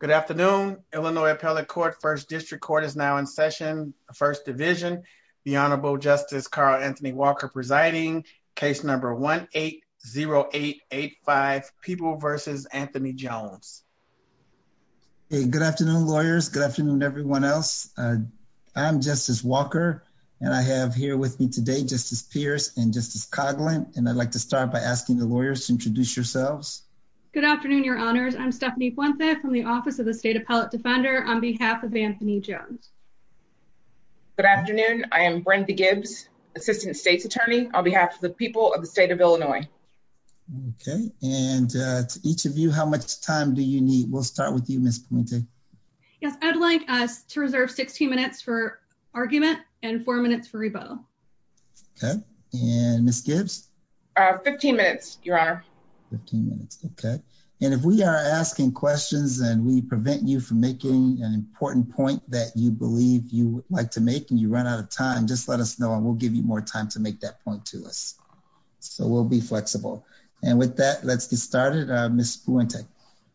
Good afternoon, Illinois Appellate Court, First District Court is now in session, First Division. The Honorable Justice Carl Anthony Walker presiding, case number 1-8-0-8-8-5, People v. Anthony Jones. Hey, good afternoon, lawyers. Good afternoon, everyone else. I'm Justice Walker, and I have here with me today Justice Pierce and Justice Coghlan, and I'd like to start by asking the lawyers to introduce yourselves. Good afternoon, your honors. I'm Stephanie Puente from the Office of the State Appellate Defender on behalf of Anthony Jones. Good afternoon. I am Brenda Gibbs, Assistant State's Attorney on behalf of the people of the state of Illinois. Okay, and to each of you, how much time do you need? We'll start with you, Ms. Puente. Yes, I'd like us to reserve 16 minutes for argument and four minutes for rebuttal. Okay, and Ms. Gibbs? 15 minutes, your honor. 15 minutes, okay. And if we are asking questions, and we prevent you from making an important point that you believe you would like to make, and you run out of time, just let us know, and we'll give you more time to make that point to us. So we'll be flexible. And with that, let's get started. Ms. Puente.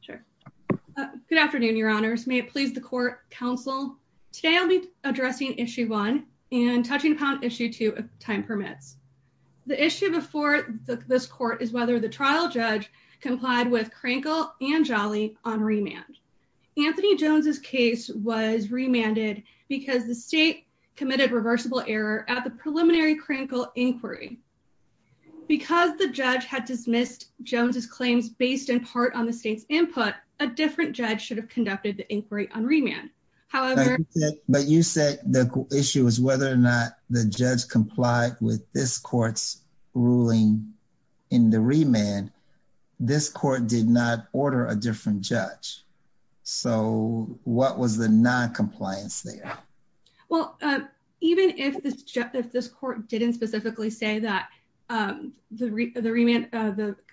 Sure. Good afternoon, your honors. May it please the court, counsel. Today I'll be addressing issue one and touching upon issue two of time permits. The issue before this court is whether the trial judge complied with Krankel and Jolly on remand. Anthony Jones's case was remanded because the state committed reversible error at the preliminary Krankel inquiry. Because the judge had dismissed Jones's claims based in part on the state's input, a different judge should have conducted the inquiry on remand. However- The issue is whether or not the judge complied with this court's ruling in the remand. This court did not order a different judge. So what was the non-compliance there? Well, even if this court didn't specifically say that the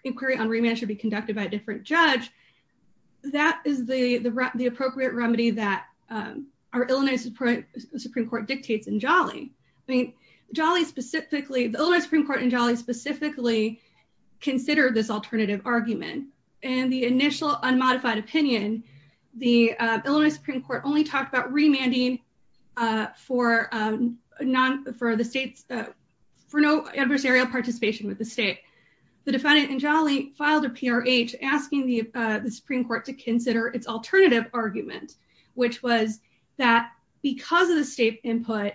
inquiry on remand should be conducted by a different judge, that is the appropriate remedy that our Illinois Supreme Court dictates in Jolly. I mean, Jolly specifically, the Illinois Supreme Court in Jolly specifically considered this alternative argument. And the initial unmodified opinion, the Illinois Supreme Court only talked about remanding for no adversarial participation with the state. The defendant in Jolly filed a PRH asking the Supreme Court to consider its alternative argument, which was that because of the state input,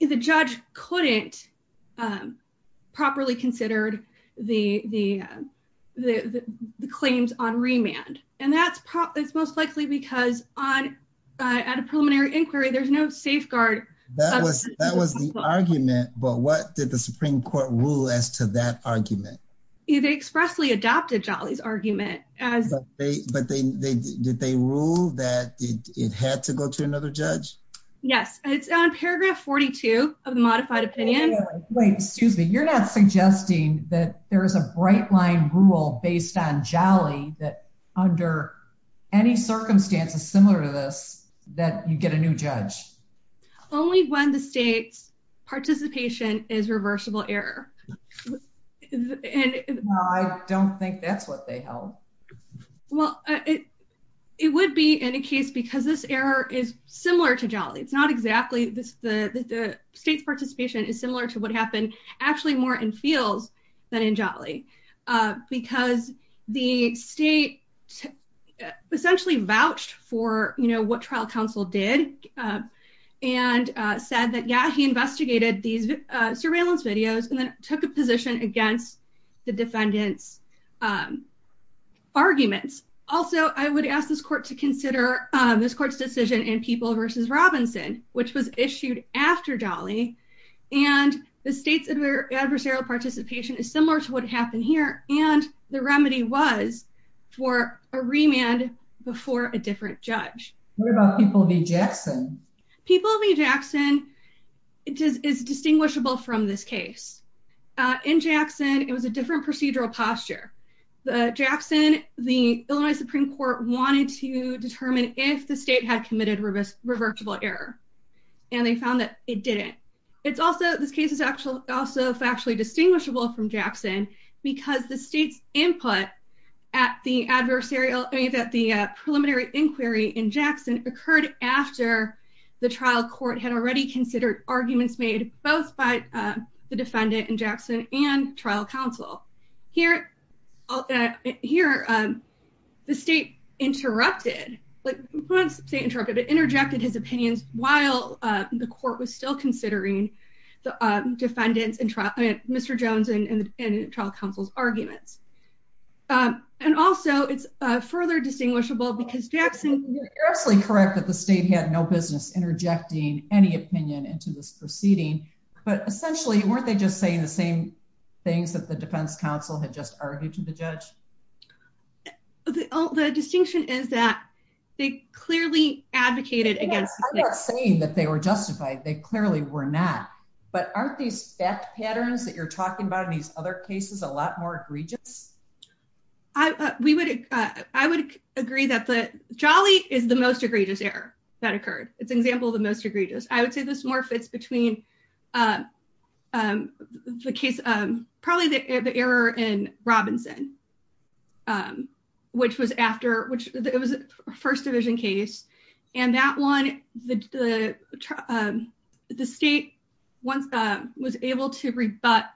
the judge couldn't properly consider the claims on remand. And that's most likely because at a preliminary inquiry, there's no safeguard- That was the argument, but what did the Supreme Court rule as to that argument? They expressly adopted Jolly's argument as- But did they rule that it had to go to another judge? Yes. It's on paragraph 42 of the modified opinion. Wait, excuse me. You're not suggesting that there is a bright line rule based on Jolly that under any circumstances similar to this, that you get a new judge? Only when the state's participation is reversible error. No, I don't think that's what they held. Well, it would be in a case because this error is similar to Jolly. It's not exactly the state's participation is similar to what happened actually more in Fields than in Jolly. Because the state essentially vouched for what trial counsel did and said that, yeah, he investigated these surveillance videos and then took a position against the defendant's arguments. Also, I would ask this court to consider this court's decision in People v. Robinson, which was issued after Jolly. And the state's adversarial participation is similar to what happened here. And the remedy was for a remand before a different judge. What about People v. Jackson? People v. Jackson is distinguishable from this case. In Jackson, it was a different procedural posture. In Jackson, the Illinois Supreme Court wanted to determine if the state had committed reversible error. And they found that it didn't. This case is also factually distinguishable from Jackson because the state's input at the preliminary inquiry in Jackson occurred after the trial court had already considered arguments made both by the defendant in Jackson and trial counsel. Here, the state interrupted, not interrupted, but interjected his opinions while the court was still considering the defendant's and Mr. Jones and trial counsel's arguments. And also, it's further distinguishable because Jackson- You're absolutely correct that the state had no business interjecting any opinion into this proceeding. But essentially, weren't they just saying the same things that the defense counsel had just argued to the judge? The distinction is that they clearly advocated against- I'm not saying that they were justified. They clearly were not. But aren't these fact patterns that you're talking about in these other cases a lot more egregious? I would agree that Jolly is the most egregious error that occurred. It's an example of the most egregious. I would say this more fits between the case- probably the error in Robinson, which was after- it was a First Division case. And that one, the state was able to rebut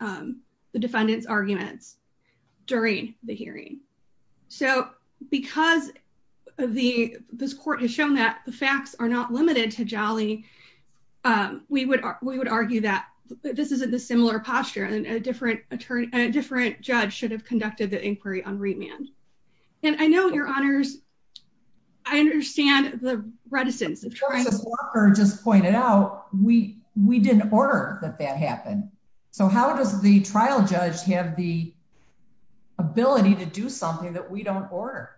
the defendant's arguments during the hearing. So, because this court has shown that the facts are not limited to Jolly, we would argue that this is a dissimilar posture and a different judge should have conducted the inquiry on Reitman. And I know, Your Honors, I understand the reticence of trying- Justice Walker just pointed out, we didn't order that that happen. So, how does the trial judge have the ability to do something that we don't order?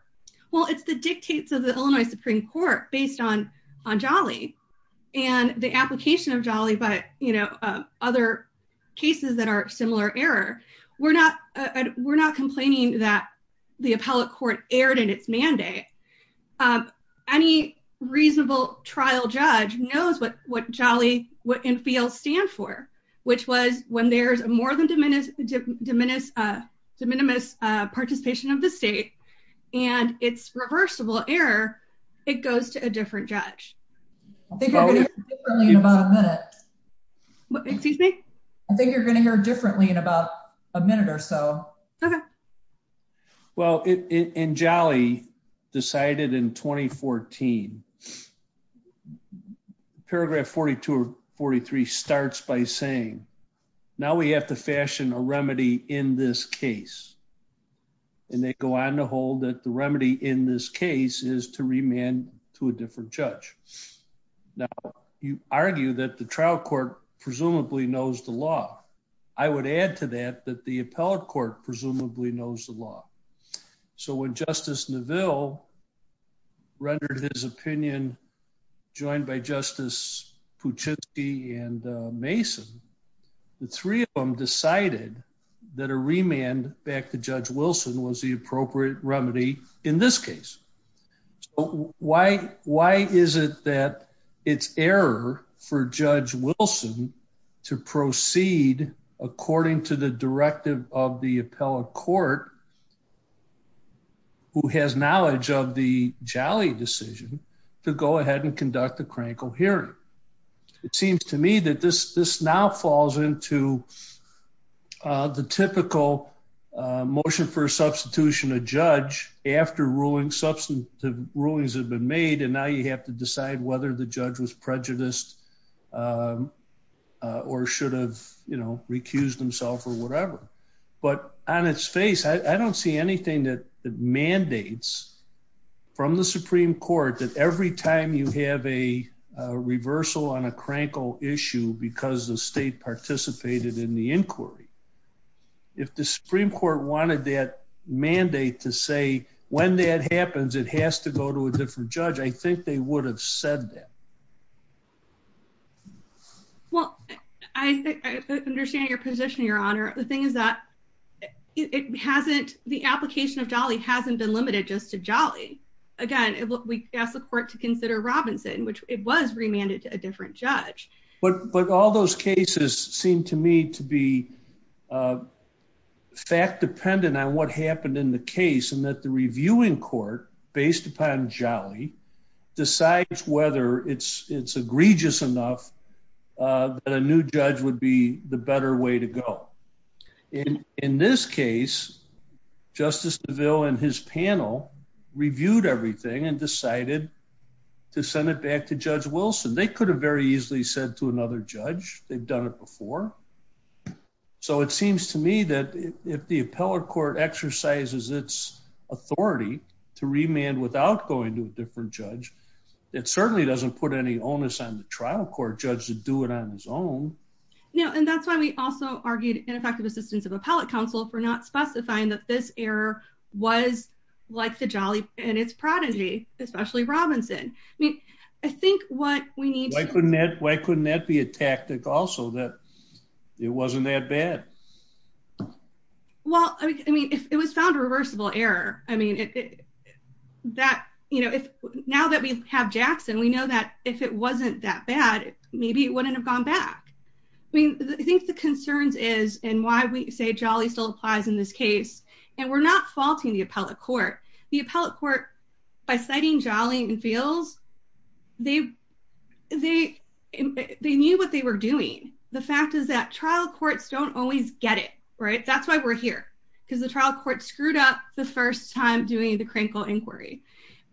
Well, it's the dictates of the Illinois Supreme Court based on Jolly and the application of Jolly, but other cases that are similar error. We're not complaining that the appellate court erred in its mandate. Any reasonable trial judge knows what Jolly and FEAL stand for, which was when there's a more than de minimis participation of the state and it's reversible error, it goes to a different judge. I think you're going to hear differently in about a minute or so. Okay. Well, in Jolly, decided in 2014, paragraph 42 or 43 starts by saying, now we have to fashion a remedy in this case. And they go on to hold that the remedy in this case is to remand to a different judge. Now, you argue that the trial court presumably knows the law. I would add to that that the appellate presumably knows the law. So, when Justice Neville rendered his opinion, joined by Justice Puchitski and Mason, the three of them decided that a remand back to Judge Wilson was the appropriate remedy in this case. So, why is it that it's error for Judge Wilson to proceed according to the directive of the appellate court who has knowledge of the Jolly decision to go ahead and conduct a crankle hearing? It seems to me that this now falls into the typical motion for substitution of judge after ruling substantive rulings have been made. And now you have to decide whether the judge was prejudiced or should have recused himself or whatever. But on its face, I don't see anything that mandates from the Supreme Court that every time you have a reversal on a crankle issue because the state participated in the inquiry, if the Supreme Court wanted that mandate to say, when that happens, it has to go to a different judge, I think they would have said that. Well, I understand your position, Your Honor. The thing is that it hasn't, the application of Jolly hasn't been limited just to Jolly. Again, we asked the court to consider Robinson, which it was remanded to a different judge. But all those cases seem to me to be fact dependent on what happened in the case and that the reviewing court based upon Jolly decides whether it's egregious enough that a new judge would be the better way to go. In this case, Justice DeVille and his panel reviewed everything and decided to send it back to Judge Wilson. They could have very easily said to another judge, they've done it before. So it seems to me that if the appellate court exercises its authority to remand without going to a different judge, it certainly doesn't put any onus on the trial court judge to do it on his own. Now, and that's why we also argued ineffective assistance of appellate counsel for not specifying that this error was like the Jolly and its prodigy, especially Robinson. I mean, I think what we need... Why couldn't that be a tactic also that it wasn't that bad? Well, I mean, if it was found a reversible error, I mean, that, you know, if now that we have Jackson, we know that if it wasn't that bad, maybe it wouldn't have gone back. I mean, I think the concerns is and why we say Jolly still applies in this case, and we're not faulting the appellate court. The appellate court, by citing Jolly and Fields, they knew what they were doing. The fact is that trial courts don't always get it, right? That's why we're here, because the trial court screwed up the first time doing the Krinkle inquiry.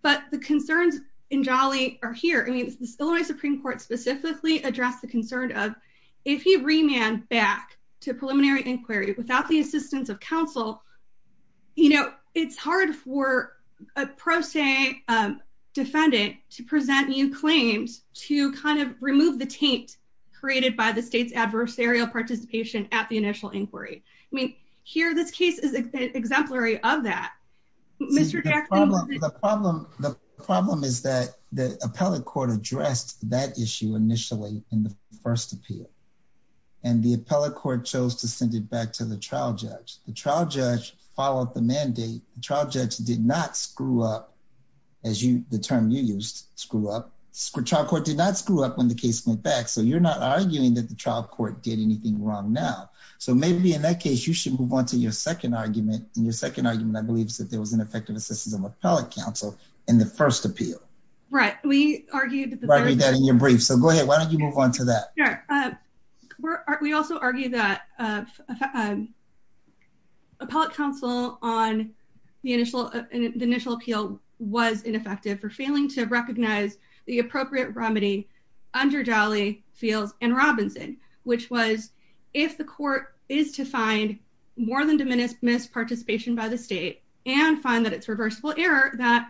But the concerns in Jolly are here. I mean, Illinois Supreme Court specifically addressed the concern of if you remand back to preliminary inquiry without the assistance of defendant to present new claims to kind of remove the taint created by the state's adversarial participation at the initial inquiry. I mean, here, this case is exemplary of that. Mr. Jackson... The problem is that the appellate court addressed that issue initially in the first appeal, and the appellate court chose to send it back to the trial judge. The trial judge followed the mandate. The trial judge did not screw up, as the term you used, screw up. The trial court did not screw up when the case went back. So you're not arguing that the trial court did anything wrong now. So maybe in that case, you should move on to your second argument. And your second argument, I believe, is that there was ineffective assistance of appellate counsel in the first appeal. Right. We argued that in your brief. So go ahead. Why don't you move on to that? We also argue that appellate counsel on the initial appeal was ineffective for failing to recognize the appropriate remedy under Jolley, Fields, and Robinson, which was if the court is to find more than diminished misparticipation by the state and find that it's reversible error, that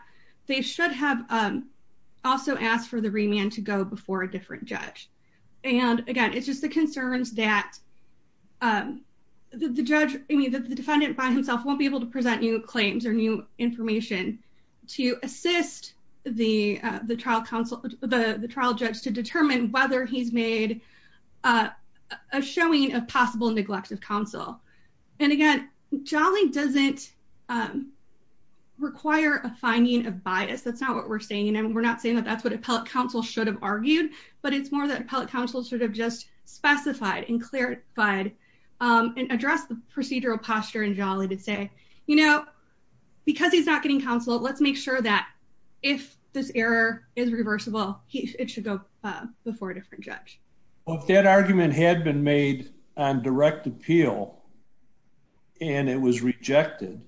they should have also asked for the remand to go before a different judge. And again, it's just the concerns that the judge, I mean, the defendant by himself, won't be able to present new claims or new information to assist the trial counsel, the trial judge to determine whether he's made a showing of possible neglect of counsel. And again, Jolley doesn't require a finding of bias. That's not what we're saying. And we're not saying that that's what appellate counsel should have argued. But it's more that appellate counsel should have just specified and clarified and addressed the procedural posture in Jolley to say, you know, because he's not getting counsel, let's make sure that if this error is reversible, it should go before a different judge. Well, if that argument had been made on direct appeal, and it was rejected,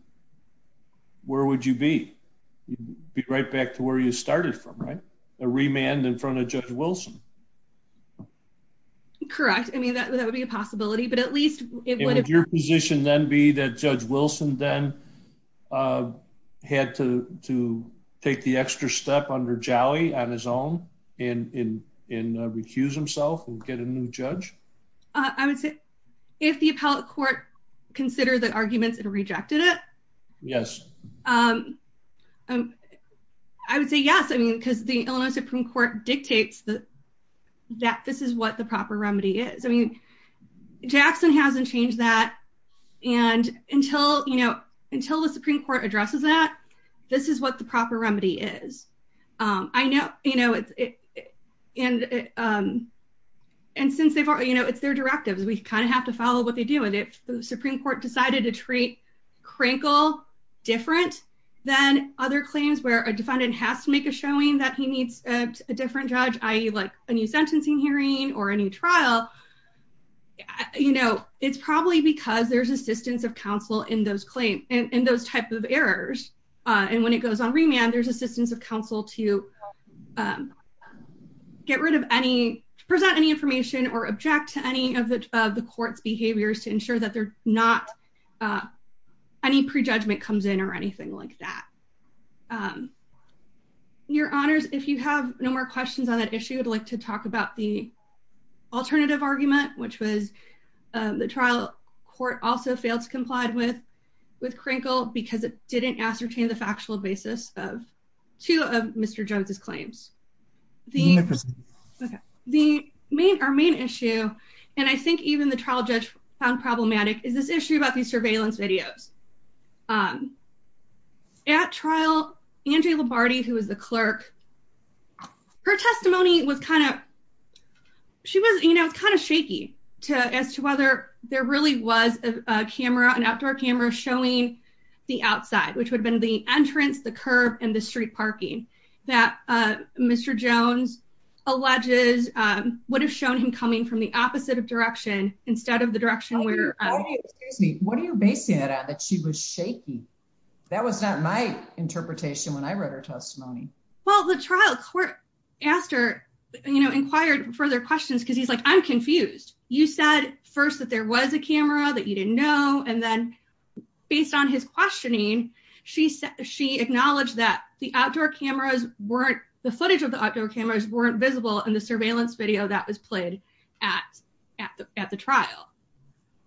where would you be? Be right back to where you started from, right? A remand in front of Judge Wilson. Correct. I mean, that would be a possibility, but at least it would be your position then be that Judge Wilson then had to take the extra step under Jolley on his own and recuse himself and get a new judge? I would say if the appellate court considered the arguments and rejected it. Yes. I would say yes. I mean, because the Illinois Supreme Court dictates that this is what the proper remedy is. I mean, Jackson hasn't changed that. And until, you know, until the Supreme Court addresses that, this is what the proper remedy is. I know, you know, and, and since they've, you know, it's their directives, we kind of have to follow what they do. And if the Supreme Court decided to treat Crankle different than other claims where a defendant has to make a showing that he needs a different judge, I like a new sentencing hearing or a new trial. You know, it's probably because there's assistance of counsel in those claims and those type of errors. And when it goes on remand, there's assistance of counsel to get rid of any, to present any information or object to any of the, of the court's behaviors to ensure that they're not any prejudgment comes in or anything like that. Your honors, if you have no more questions on that issue, I'd like to talk about the alternative argument, which was the trial court also failed to complied with, with Crankle because it didn't ascertain the factual basis of two of Mr. Jones's claims. The main, our main issue, and I think even the trial judge found problematic is this issue about these surveillance videos. At trial, Angie Lombardi, who was the clerk, her testimony was kind of, she was, you know, it's kind of shaky to as to whether there really was a camera, an outdoor camera showing the outside, which would have been the entrance, the curb and the street parking that Mr. Jones alleges would have shown him coming from the opposite of direction instead of the she was shaky. That was not my interpretation when I read her testimony. Well, the trial court asked her, you know, inquired further questions. Cause he's like, I'm confused. You said first that there was a camera that you didn't know. And then based on his questioning, she said, she acknowledged that the outdoor cameras weren't the footage of the outdoor cameras weren't visible in the surveillance video that was played at, at the, at the trial.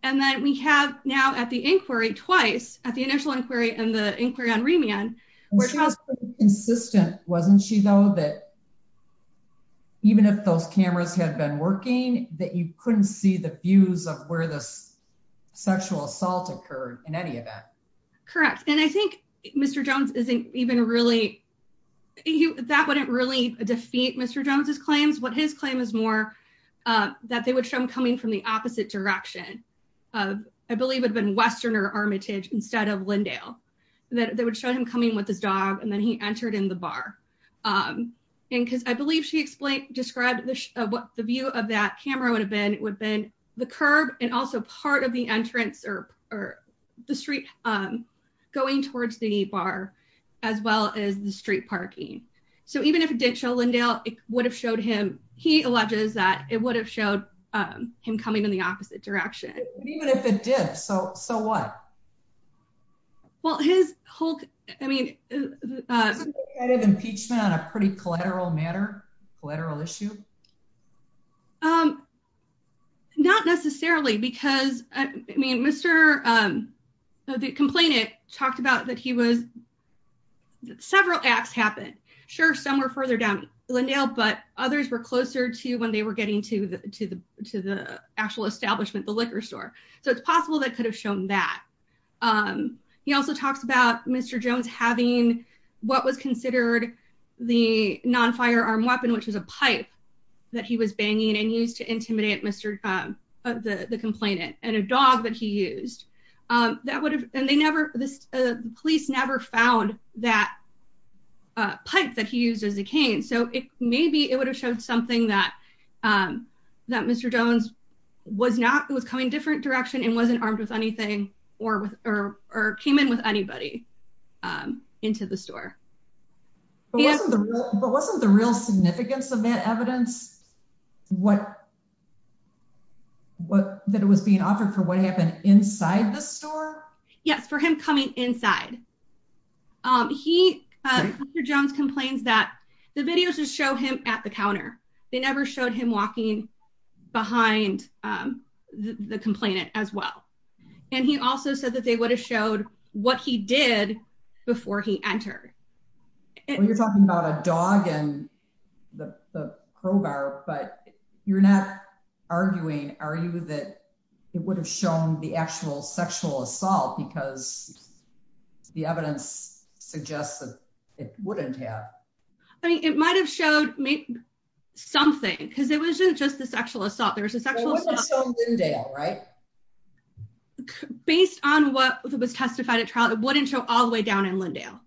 And then we have now at the inquiry twice at the initial inquiry and the inquiry on remand, which was consistent. Wasn't she though, that even if those cameras had been working, that you couldn't see the views of where the sexual assault occurred in any event. Correct. And I think Mr. Jones isn't even really, that wouldn't really defeat Mr. Jones's claims. What his claim is more that they would show him coming from the opposite direction of, I believe it had been Western or Armitage instead of Lindale that they would show him coming with his dog. And then he entered in the bar. And cause I believe she explained, described what the view of that camera would have been, would have been the curb and also part of the entrance or, or the street going towards the bar as well as the street parking. So even if it didn't show it would have showed him, he alleges that it would have showed him coming in the opposite direction. Even if it did. So, so what? Well, his whole, I mean, impeachment on a pretty collateral matter, collateral issue. Not necessarily because I mean, Mr. the complainant talked about that. He was several acts happened. Sure. Some were further down Lindale, but others were closer to when they were getting to the, to the, to the actual establishment, the liquor store. So it's possible that could have shown that. He also talks about Mr. Jones having what was considered the non firearm weapon, which was a pipe that he was banging and used to intimidate Mr. the complainant and a dog that he used that would have, and they never, this police never found that pipe that he used as a cane. So it may be, it would have showed something that that Mr. Jones was not, it was coming different direction and wasn't armed with anything or with, or, or came in with anybody into the store. But wasn't the real significance of that evidence, what, what, that it was being offered for what happened inside the store? Yes, for him coming inside. He, Mr. Jones complains that the videos just show him at the counter. They never showed him walking behind the complainant as well. And he also said that they would have showed what he did before he entered. You're talking about a dog and the crowbar, but you're not arguing, are you that it would have shown the actual sexual assault because the evidence suggests that it wouldn't have, I mean, it might've showed me something cause it wasn't just the sexual assault. There was a sexual assault based on what was testified at trial. It wouldn't show all the way down in Lindale.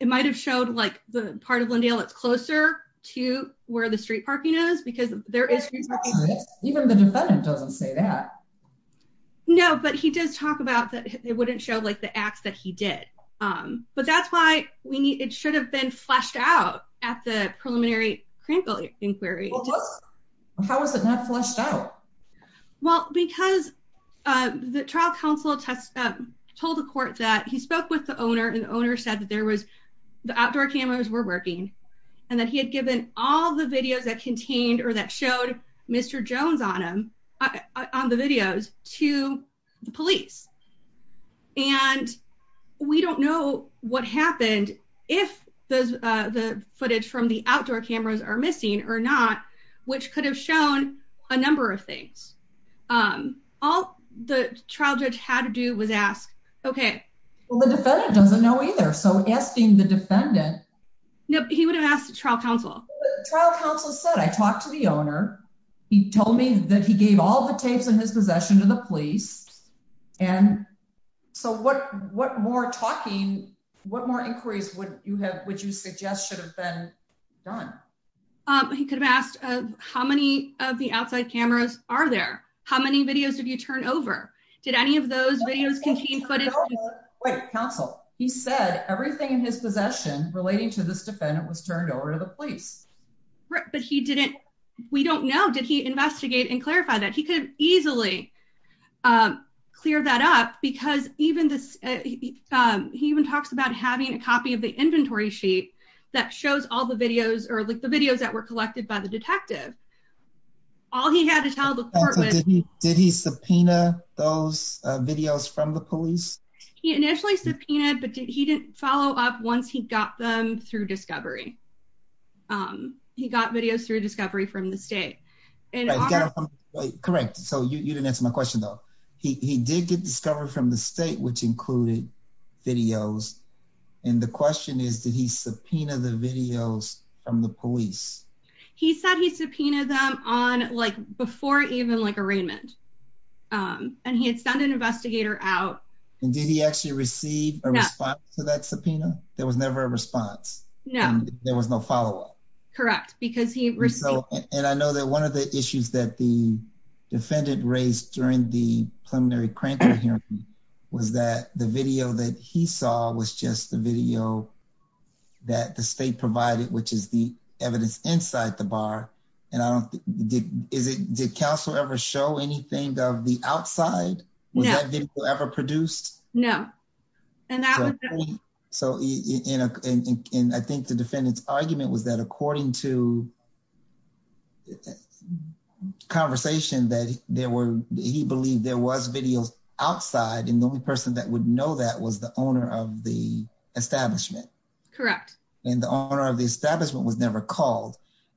It might've showed like the part of closer to where the street parking is because there is even the defendant doesn't say that. No, but he does talk about that. It wouldn't show like the acts that he did. But that's why we need, it should have been fleshed out at the preliminary crinkle inquiry. How was it not flushed out? Well, because the trial counsel test told the court that he spoke with the owner and the owner said that there was the outdoor cameras were working and that he had given all the videos that contained or that showed Mr. Jones on him on the videos to the police. And we don't know what happened if the footage from the outdoor cameras are missing or not, which could have shown a number of things. All the trial judge had to do was ask, okay. Well, the defendant doesn't know either. So asking the defendant. Nope. He would have asked the trial counsel trial counsel said, I talked to the owner. He told me that he gave all the tapes in his possession to the police. And so what, what more talking, what more inquiries would you have, would you suggest should have been done? He could have asked how many of the outside cameras are there? How many videos have you turned over? Did any of those videos contain footage? Wait, counsel. He said everything in his possession relating to this defendant was turned over to the police, right? But he didn't, we don't know. Did he investigate and clarify that he could easily clear that up? Because even this, he even talks about having a copy of the inventory sheet that shows all the videos or like the videos were collected by the detective. All he had to tell the court. Did he subpoena those videos from the police? He initially subpoenaed, but he didn't follow up once he got them through discovery. He got videos through discovery from the state and correct. So you didn't answer my question though. He did get discovered from the state, which included videos. And the question is, did he subpoena the videos from the police? He said he subpoenaed them on like before even like arraignment. Um, and he had sent an investigator out and did he actually receive a response to that subpoena? There was never a response. No, there was no follow up. Correct. Because he received. And I know that one of the issues that the defendant raised during the preliminary hearing was that the video that he saw was just the video that the state provided, which is the evidence inside the bar. And I don't think, is it, did counsel ever show anything of the outside ever produced? No. And I think the defendant's argument was that according to the conversation that there were, he believed there was videos outside. And the only person that would know that was the owner of the establishment. Correct. And the owner of the establishment was never called.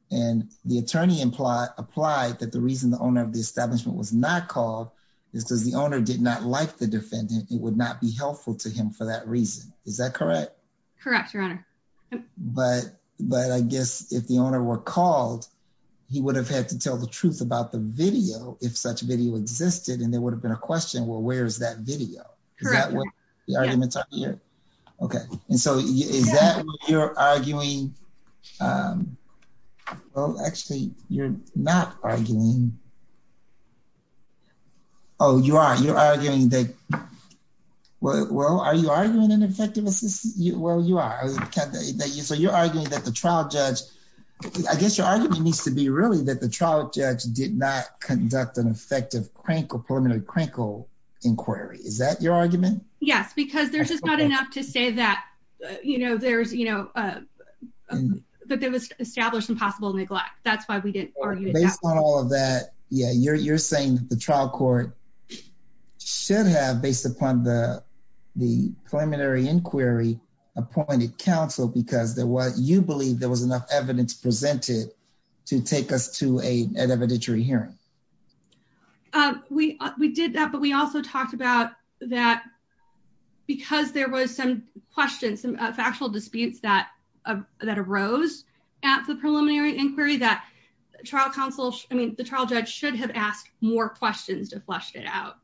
And the attorney implied applied that the reason the owner of the establishment was not called is because the owner did not like the defendant. It would not be helpful to him for that reason. Is that correct? Correct. Your honor. But, but I guess if the owner were called, he would have had to tell the truth about the video if such video existed and there would have been a question, well, where's that video? Correct. Is that what the arguments are here? Okay. And so is that what you're arguing? Well, actually you're not arguing. Oh, you are. You're arguing that, well, are you arguing an effective assistance? Well, you are. So you're arguing that the trial judge, I guess your argument needs to be really that the trial judge did not conduct an effective crank or preliminary crankle inquiry. Is that your argument? Yes. Because there's just not enough to say that, you know, there's, you know, that there was established impossible neglect. That's why we didn't argue it. Based on all of that. Yeah. You're, you're saying that the trial court should have based upon the, the preliminary inquiry appointed counsel, because there was, you believe there was enough evidence presented to take us to a, an evidentiary hearing. We, we did that, but we also talked about that because there was some questions, some factual disputes that, that arose at the preliminary inquiry that trial counsel, I mean, the trial judge should have asked more questions to flesh it out.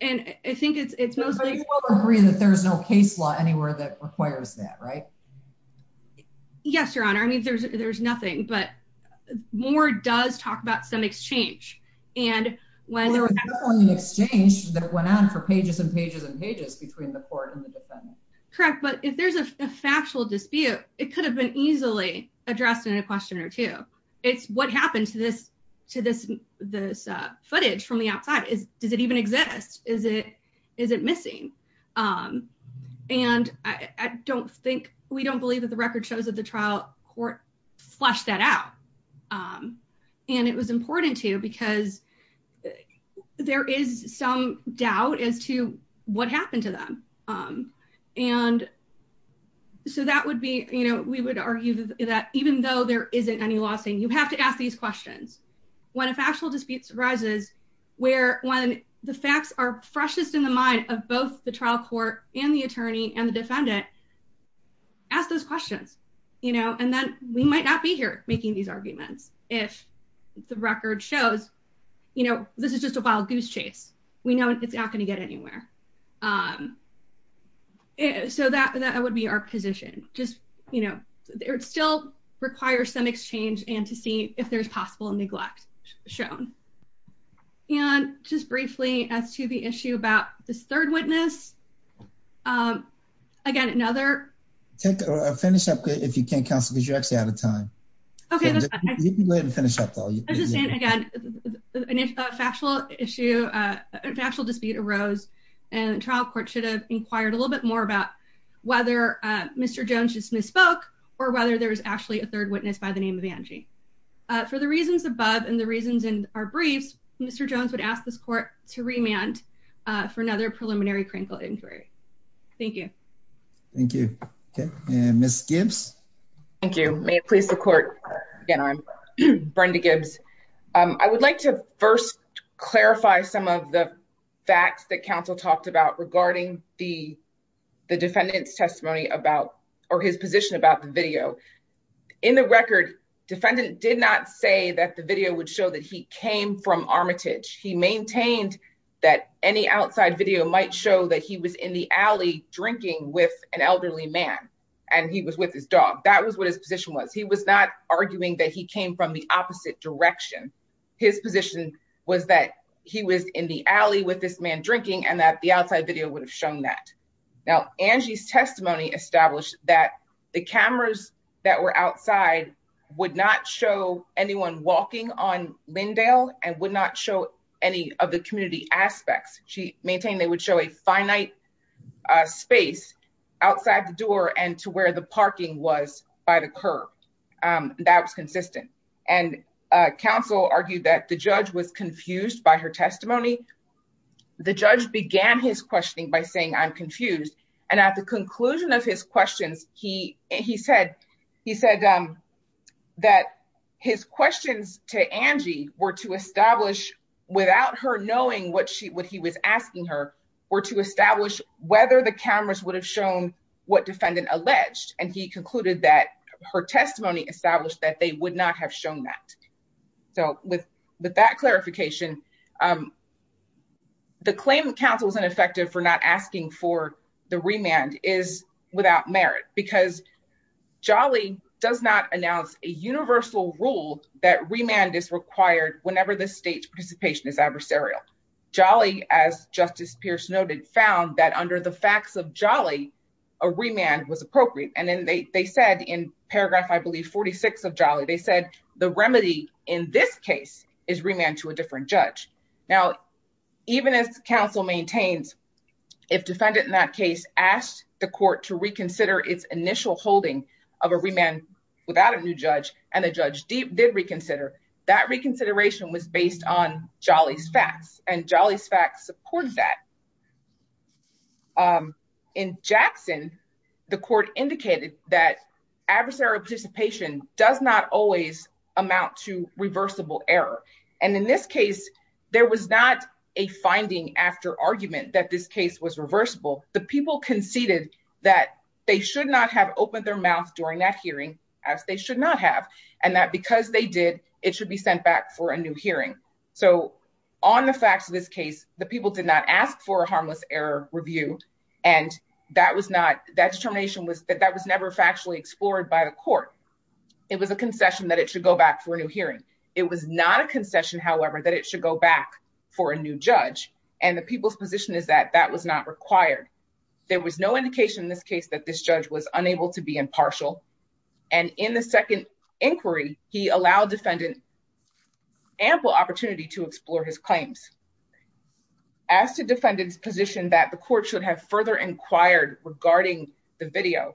And I think it's, it's mostly agree that there's no case law anywhere that requires that, right? Yes, your honor. I mean, there's, there's nothing, but more does talk about some exchange and when there was an exchange that went on for pages and pages and pages between the court and the defendant. Correct. But if there's a factual dispute, it could have been easily addressed in a question or two. It's what happened to this, to this, this footage from the outside is, does it even exist? Is it, is it missing? And I don't think we don't believe that the record shows that the trial court flushed that out. And it was we would argue that even though there isn't any law saying you have to ask these questions when a factual dispute arises, where, when the facts are freshest in the mind of both the trial court and the attorney and the defendant ask those questions, and then we might not be here making these arguments. If the record shows, this is just a wild goose chase. We know it's not going to get anywhere. So that, that would be our position. Just, you know, it still requires some exchange and to see if there's possible neglect shown. And just briefly as to the issue about this third witness. Again, another. Take a finish up if you can't counsel, because you're actually out of time. Okay. You can go ahead and finish up though. Again, a factual issue, a factual dispute arose and trial court should have inquired a little bit more about whether Mr. Jones just misspoke or whether there was actually a third witness by the name of Angie. For the reasons above and the reasons in our briefs, Mr. Jones would ask this court to remand for another preliminary crinkle injury. Thank you. Thank you. Okay. And Ms. Gibbs. Thank you. May it please the facts that counsel talked about regarding the defendant's testimony about, or his position about the video. In the record, defendant did not say that the video would show that he came from Armitage. He maintained that any outside video might show that he was in the alley drinking with an elderly man. And he was with his dog. That was what his position was. He was not arguing that he from the opposite direction. His position was that he was in the alley with this man drinking and that the outside video would have shown that. Now, Angie's testimony established that the cameras that were outside would not show anyone walking on Lindale and would not show any of the community aspects. She maintained they would show a finite space outside the door and to where the and, uh, counsel argued that the judge was confused by her testimony. The judge began his questioning by saying, I'm confused. And at the conclusion of his questions, he, he said, he said, um, that his questions to Angie were to establish without her knowing what she would, he was asking her or to establish whether the cameras would have shown what that. So with that clarification, um, the claim that counsel was ineffective for not asking for the remand is without merit because Jolly does not announce a universal rule that remand is required whenever the state's participation is adversarial. Jolly, as justice Pierce noted, found that under the facts of Jolly, a remand was appropriate. And then they said in paragraph, I believe 46 of Jolly, they said the remedy in this case is remand to a different judge. Now, even as counsel maintains, if defendant in that case asked the court to reconsider its initial holding of a remand without a new judge and the judge did reconsider that reconsideration was based on Jolly's facts and Jolly's facts support that. Um, in Jackson, the court indicated that adversarial participation does not always amount to reversible error. And in this case, there was not a finding after argument that this case was reversible. The people conceded that they should not have opened their mouth during that hearing as they should not have. And that because they did, it should be sent back for a new hearing. So on the facts of this case, the people did not ask for a harmless error review. And that was not that determination was that that was never factually explored by the court. It was a concession that it should go back for a new hearing. It was not a concession, however, that it should go back for a new judge. And the people's position is that that was not required. There was no indication in this case that this judge was unable to be impartial. And in the second inquiry, he allowed defendant ample opportunity to explore his claims. As to defendant's position that the court should have further inquired regarding the video,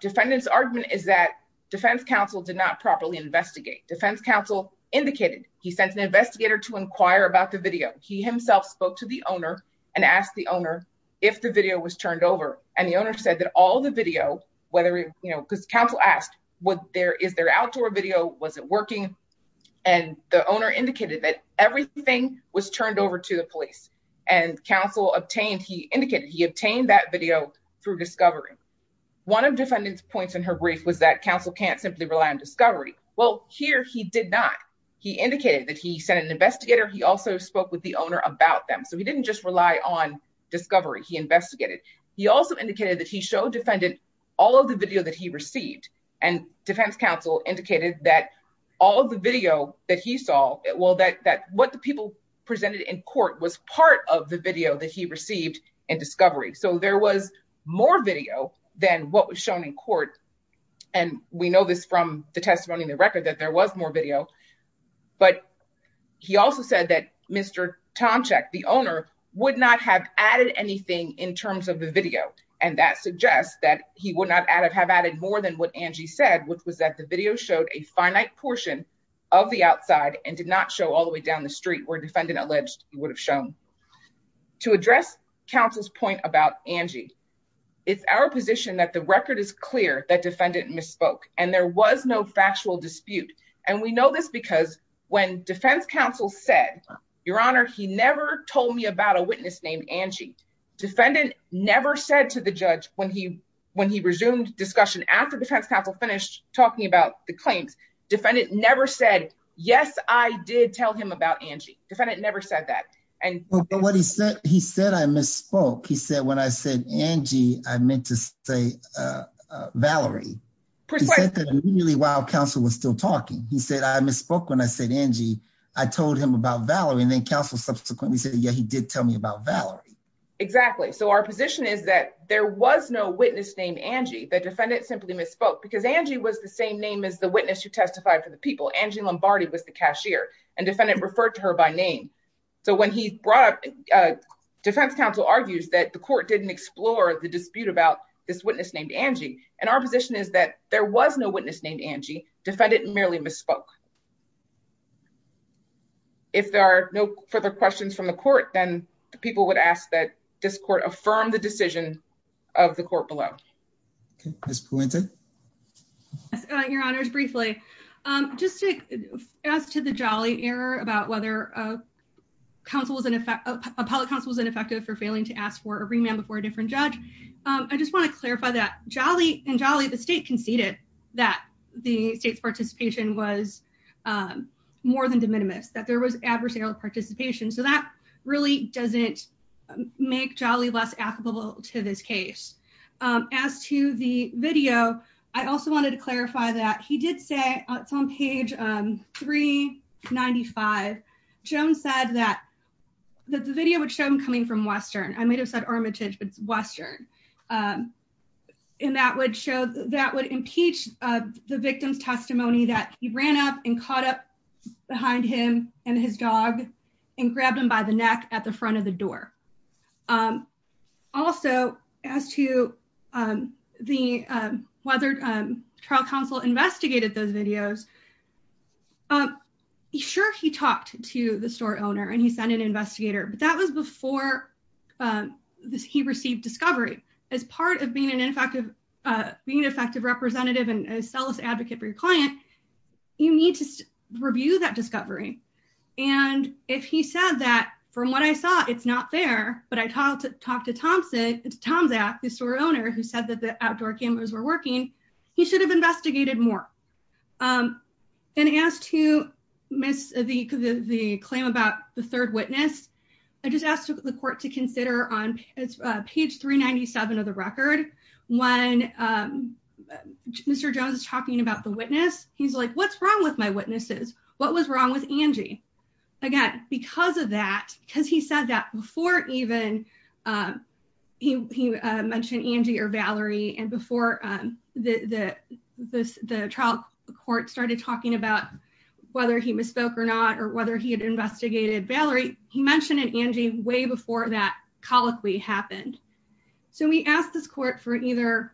defendant's argument is that defense counsel did not properly investigate. Defense counsel indicated he sent an investigator to inquire about the video. He himself spoke to the owner and asked the owner if the video was turned over. And the owner said that all the video, whether, you know, because counsel asked what there is their outdoor video, was it working? And the owner indicated that everything was turned over to the police and counsel obtained, he indicated he obtained that video through discovery. One of defendant's points in her brief was that counsel can't simply rely on discovery. Well, here he did not. He indicated that he sent an investigator. He also spoke with the owner about them. So he didn't just rely on discovery. He investigated. He also indicated that he showed defendant all of the video that he received. And defense counsel indicated that all of the video that he saw, well, that what the people presented in court was part of the video that he received in discovery. So there was more video than what was shown in court. And we know this from the testimony in the record that there was more video. But he also said that Mr. Tomczyk, the owner, would not have added anything in terms of the video. And that suggests that he would not have added more than what Angie said, which was that the video showed a finite portion of the outside and did not show all the way down the street where defendant alleged he would have shown. To address counsel's point about Angie, it's our position that the record is clear that defendant misspoke and there was no factual dispute. And we know this because when defense counsel said, your honor, he never told me about a witness named Angie. Defendant never said to the judge when he resumed discussion after defense counsel finished talking about the claims, defendant never said, yes, I did tell him about Angie. Defendant never said that. But what he said, he said I misspoke. He said when I said Angie, I meant to say Valerie. He said that immediately while counsel was still talking. He said I misspoke when I said Angie. I told him about Valerie. And then counsel subsequently said, yeah, he did tell me about Valerie. Exactly. So our position is that there was no witness named Angie. The defendant simply misspoke because Angie was the same name as the witness who testified for the people. Angie Lombardi was the cashier and defendant referred to her by name. So when he brought up, defense counsel argues that the court didn't explore the dispute about this witness named Angie. And our position is that there was no witness named Angie. Defendant merely misspoke. If there are no further questions from the court, then the people would ask that this court affirm the decision of the court below. Okay, Ms. Puente. Your honors, briefly, just as to the Jolly error about whether a public counsel was ineffective for failing to ask for a remand before a different judge. I just want to clarify that in Jolly, the state conceded that the state's participation was more than de minimis, that there was adversarial participation. So that really doesn't make Jolly less applicable to this case. As to the video, I also wanted to clarify that he did say it's on page 395. Joan said that the video would show him coming from Western. I might have said Armitage, but it's Western. And that would show that would impeach the victim's testimony that he ran up and caught up behind him and his dog and grabbed him by the neck at the front of the door. Also, as to the whether trial counsel investigated those videos. Sure, he talked to the store owner and he sent an investigator, but that was before he received discovery. As part of being an effective representative and a selfless advocate for your client, you need to review that discovery. And if he said that, from what I saw, it's not fair, but I talked to Tomzak, the store owner, who said that the outdoor cameras were working, he should have investigated more. And as to the claim about the third witness, I just asked the court to consider on page 397 of the record, when Mr. Jones is talking about the witness, he's like, what's wrong with my witnesses? What was wrong with Angie? Again, because of that, because he said that before even he mentioned Angie or Valerie and before the trial court started talking about whether he misspoke or not, or whether he had investigated Valerie, he mentioned an Angie way before that colloquy happened. So we asked this court for either,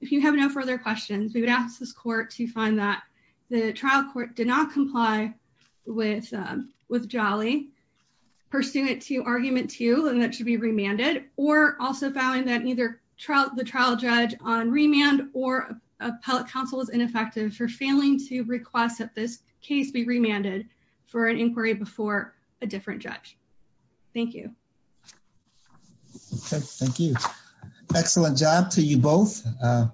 if you have no further questions, we would ask this court to find that the trial court did not comply with Jolly, pursuant to argument two, and that should be remanded, or also found that the trial judge on remand or appellate counsel is ineffective for failing to request that this case be remanded for an inquiry before a different judge. Thank you. Thank you. Excellent job to you both.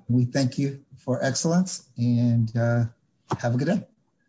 We thank you for excellence and have a good day.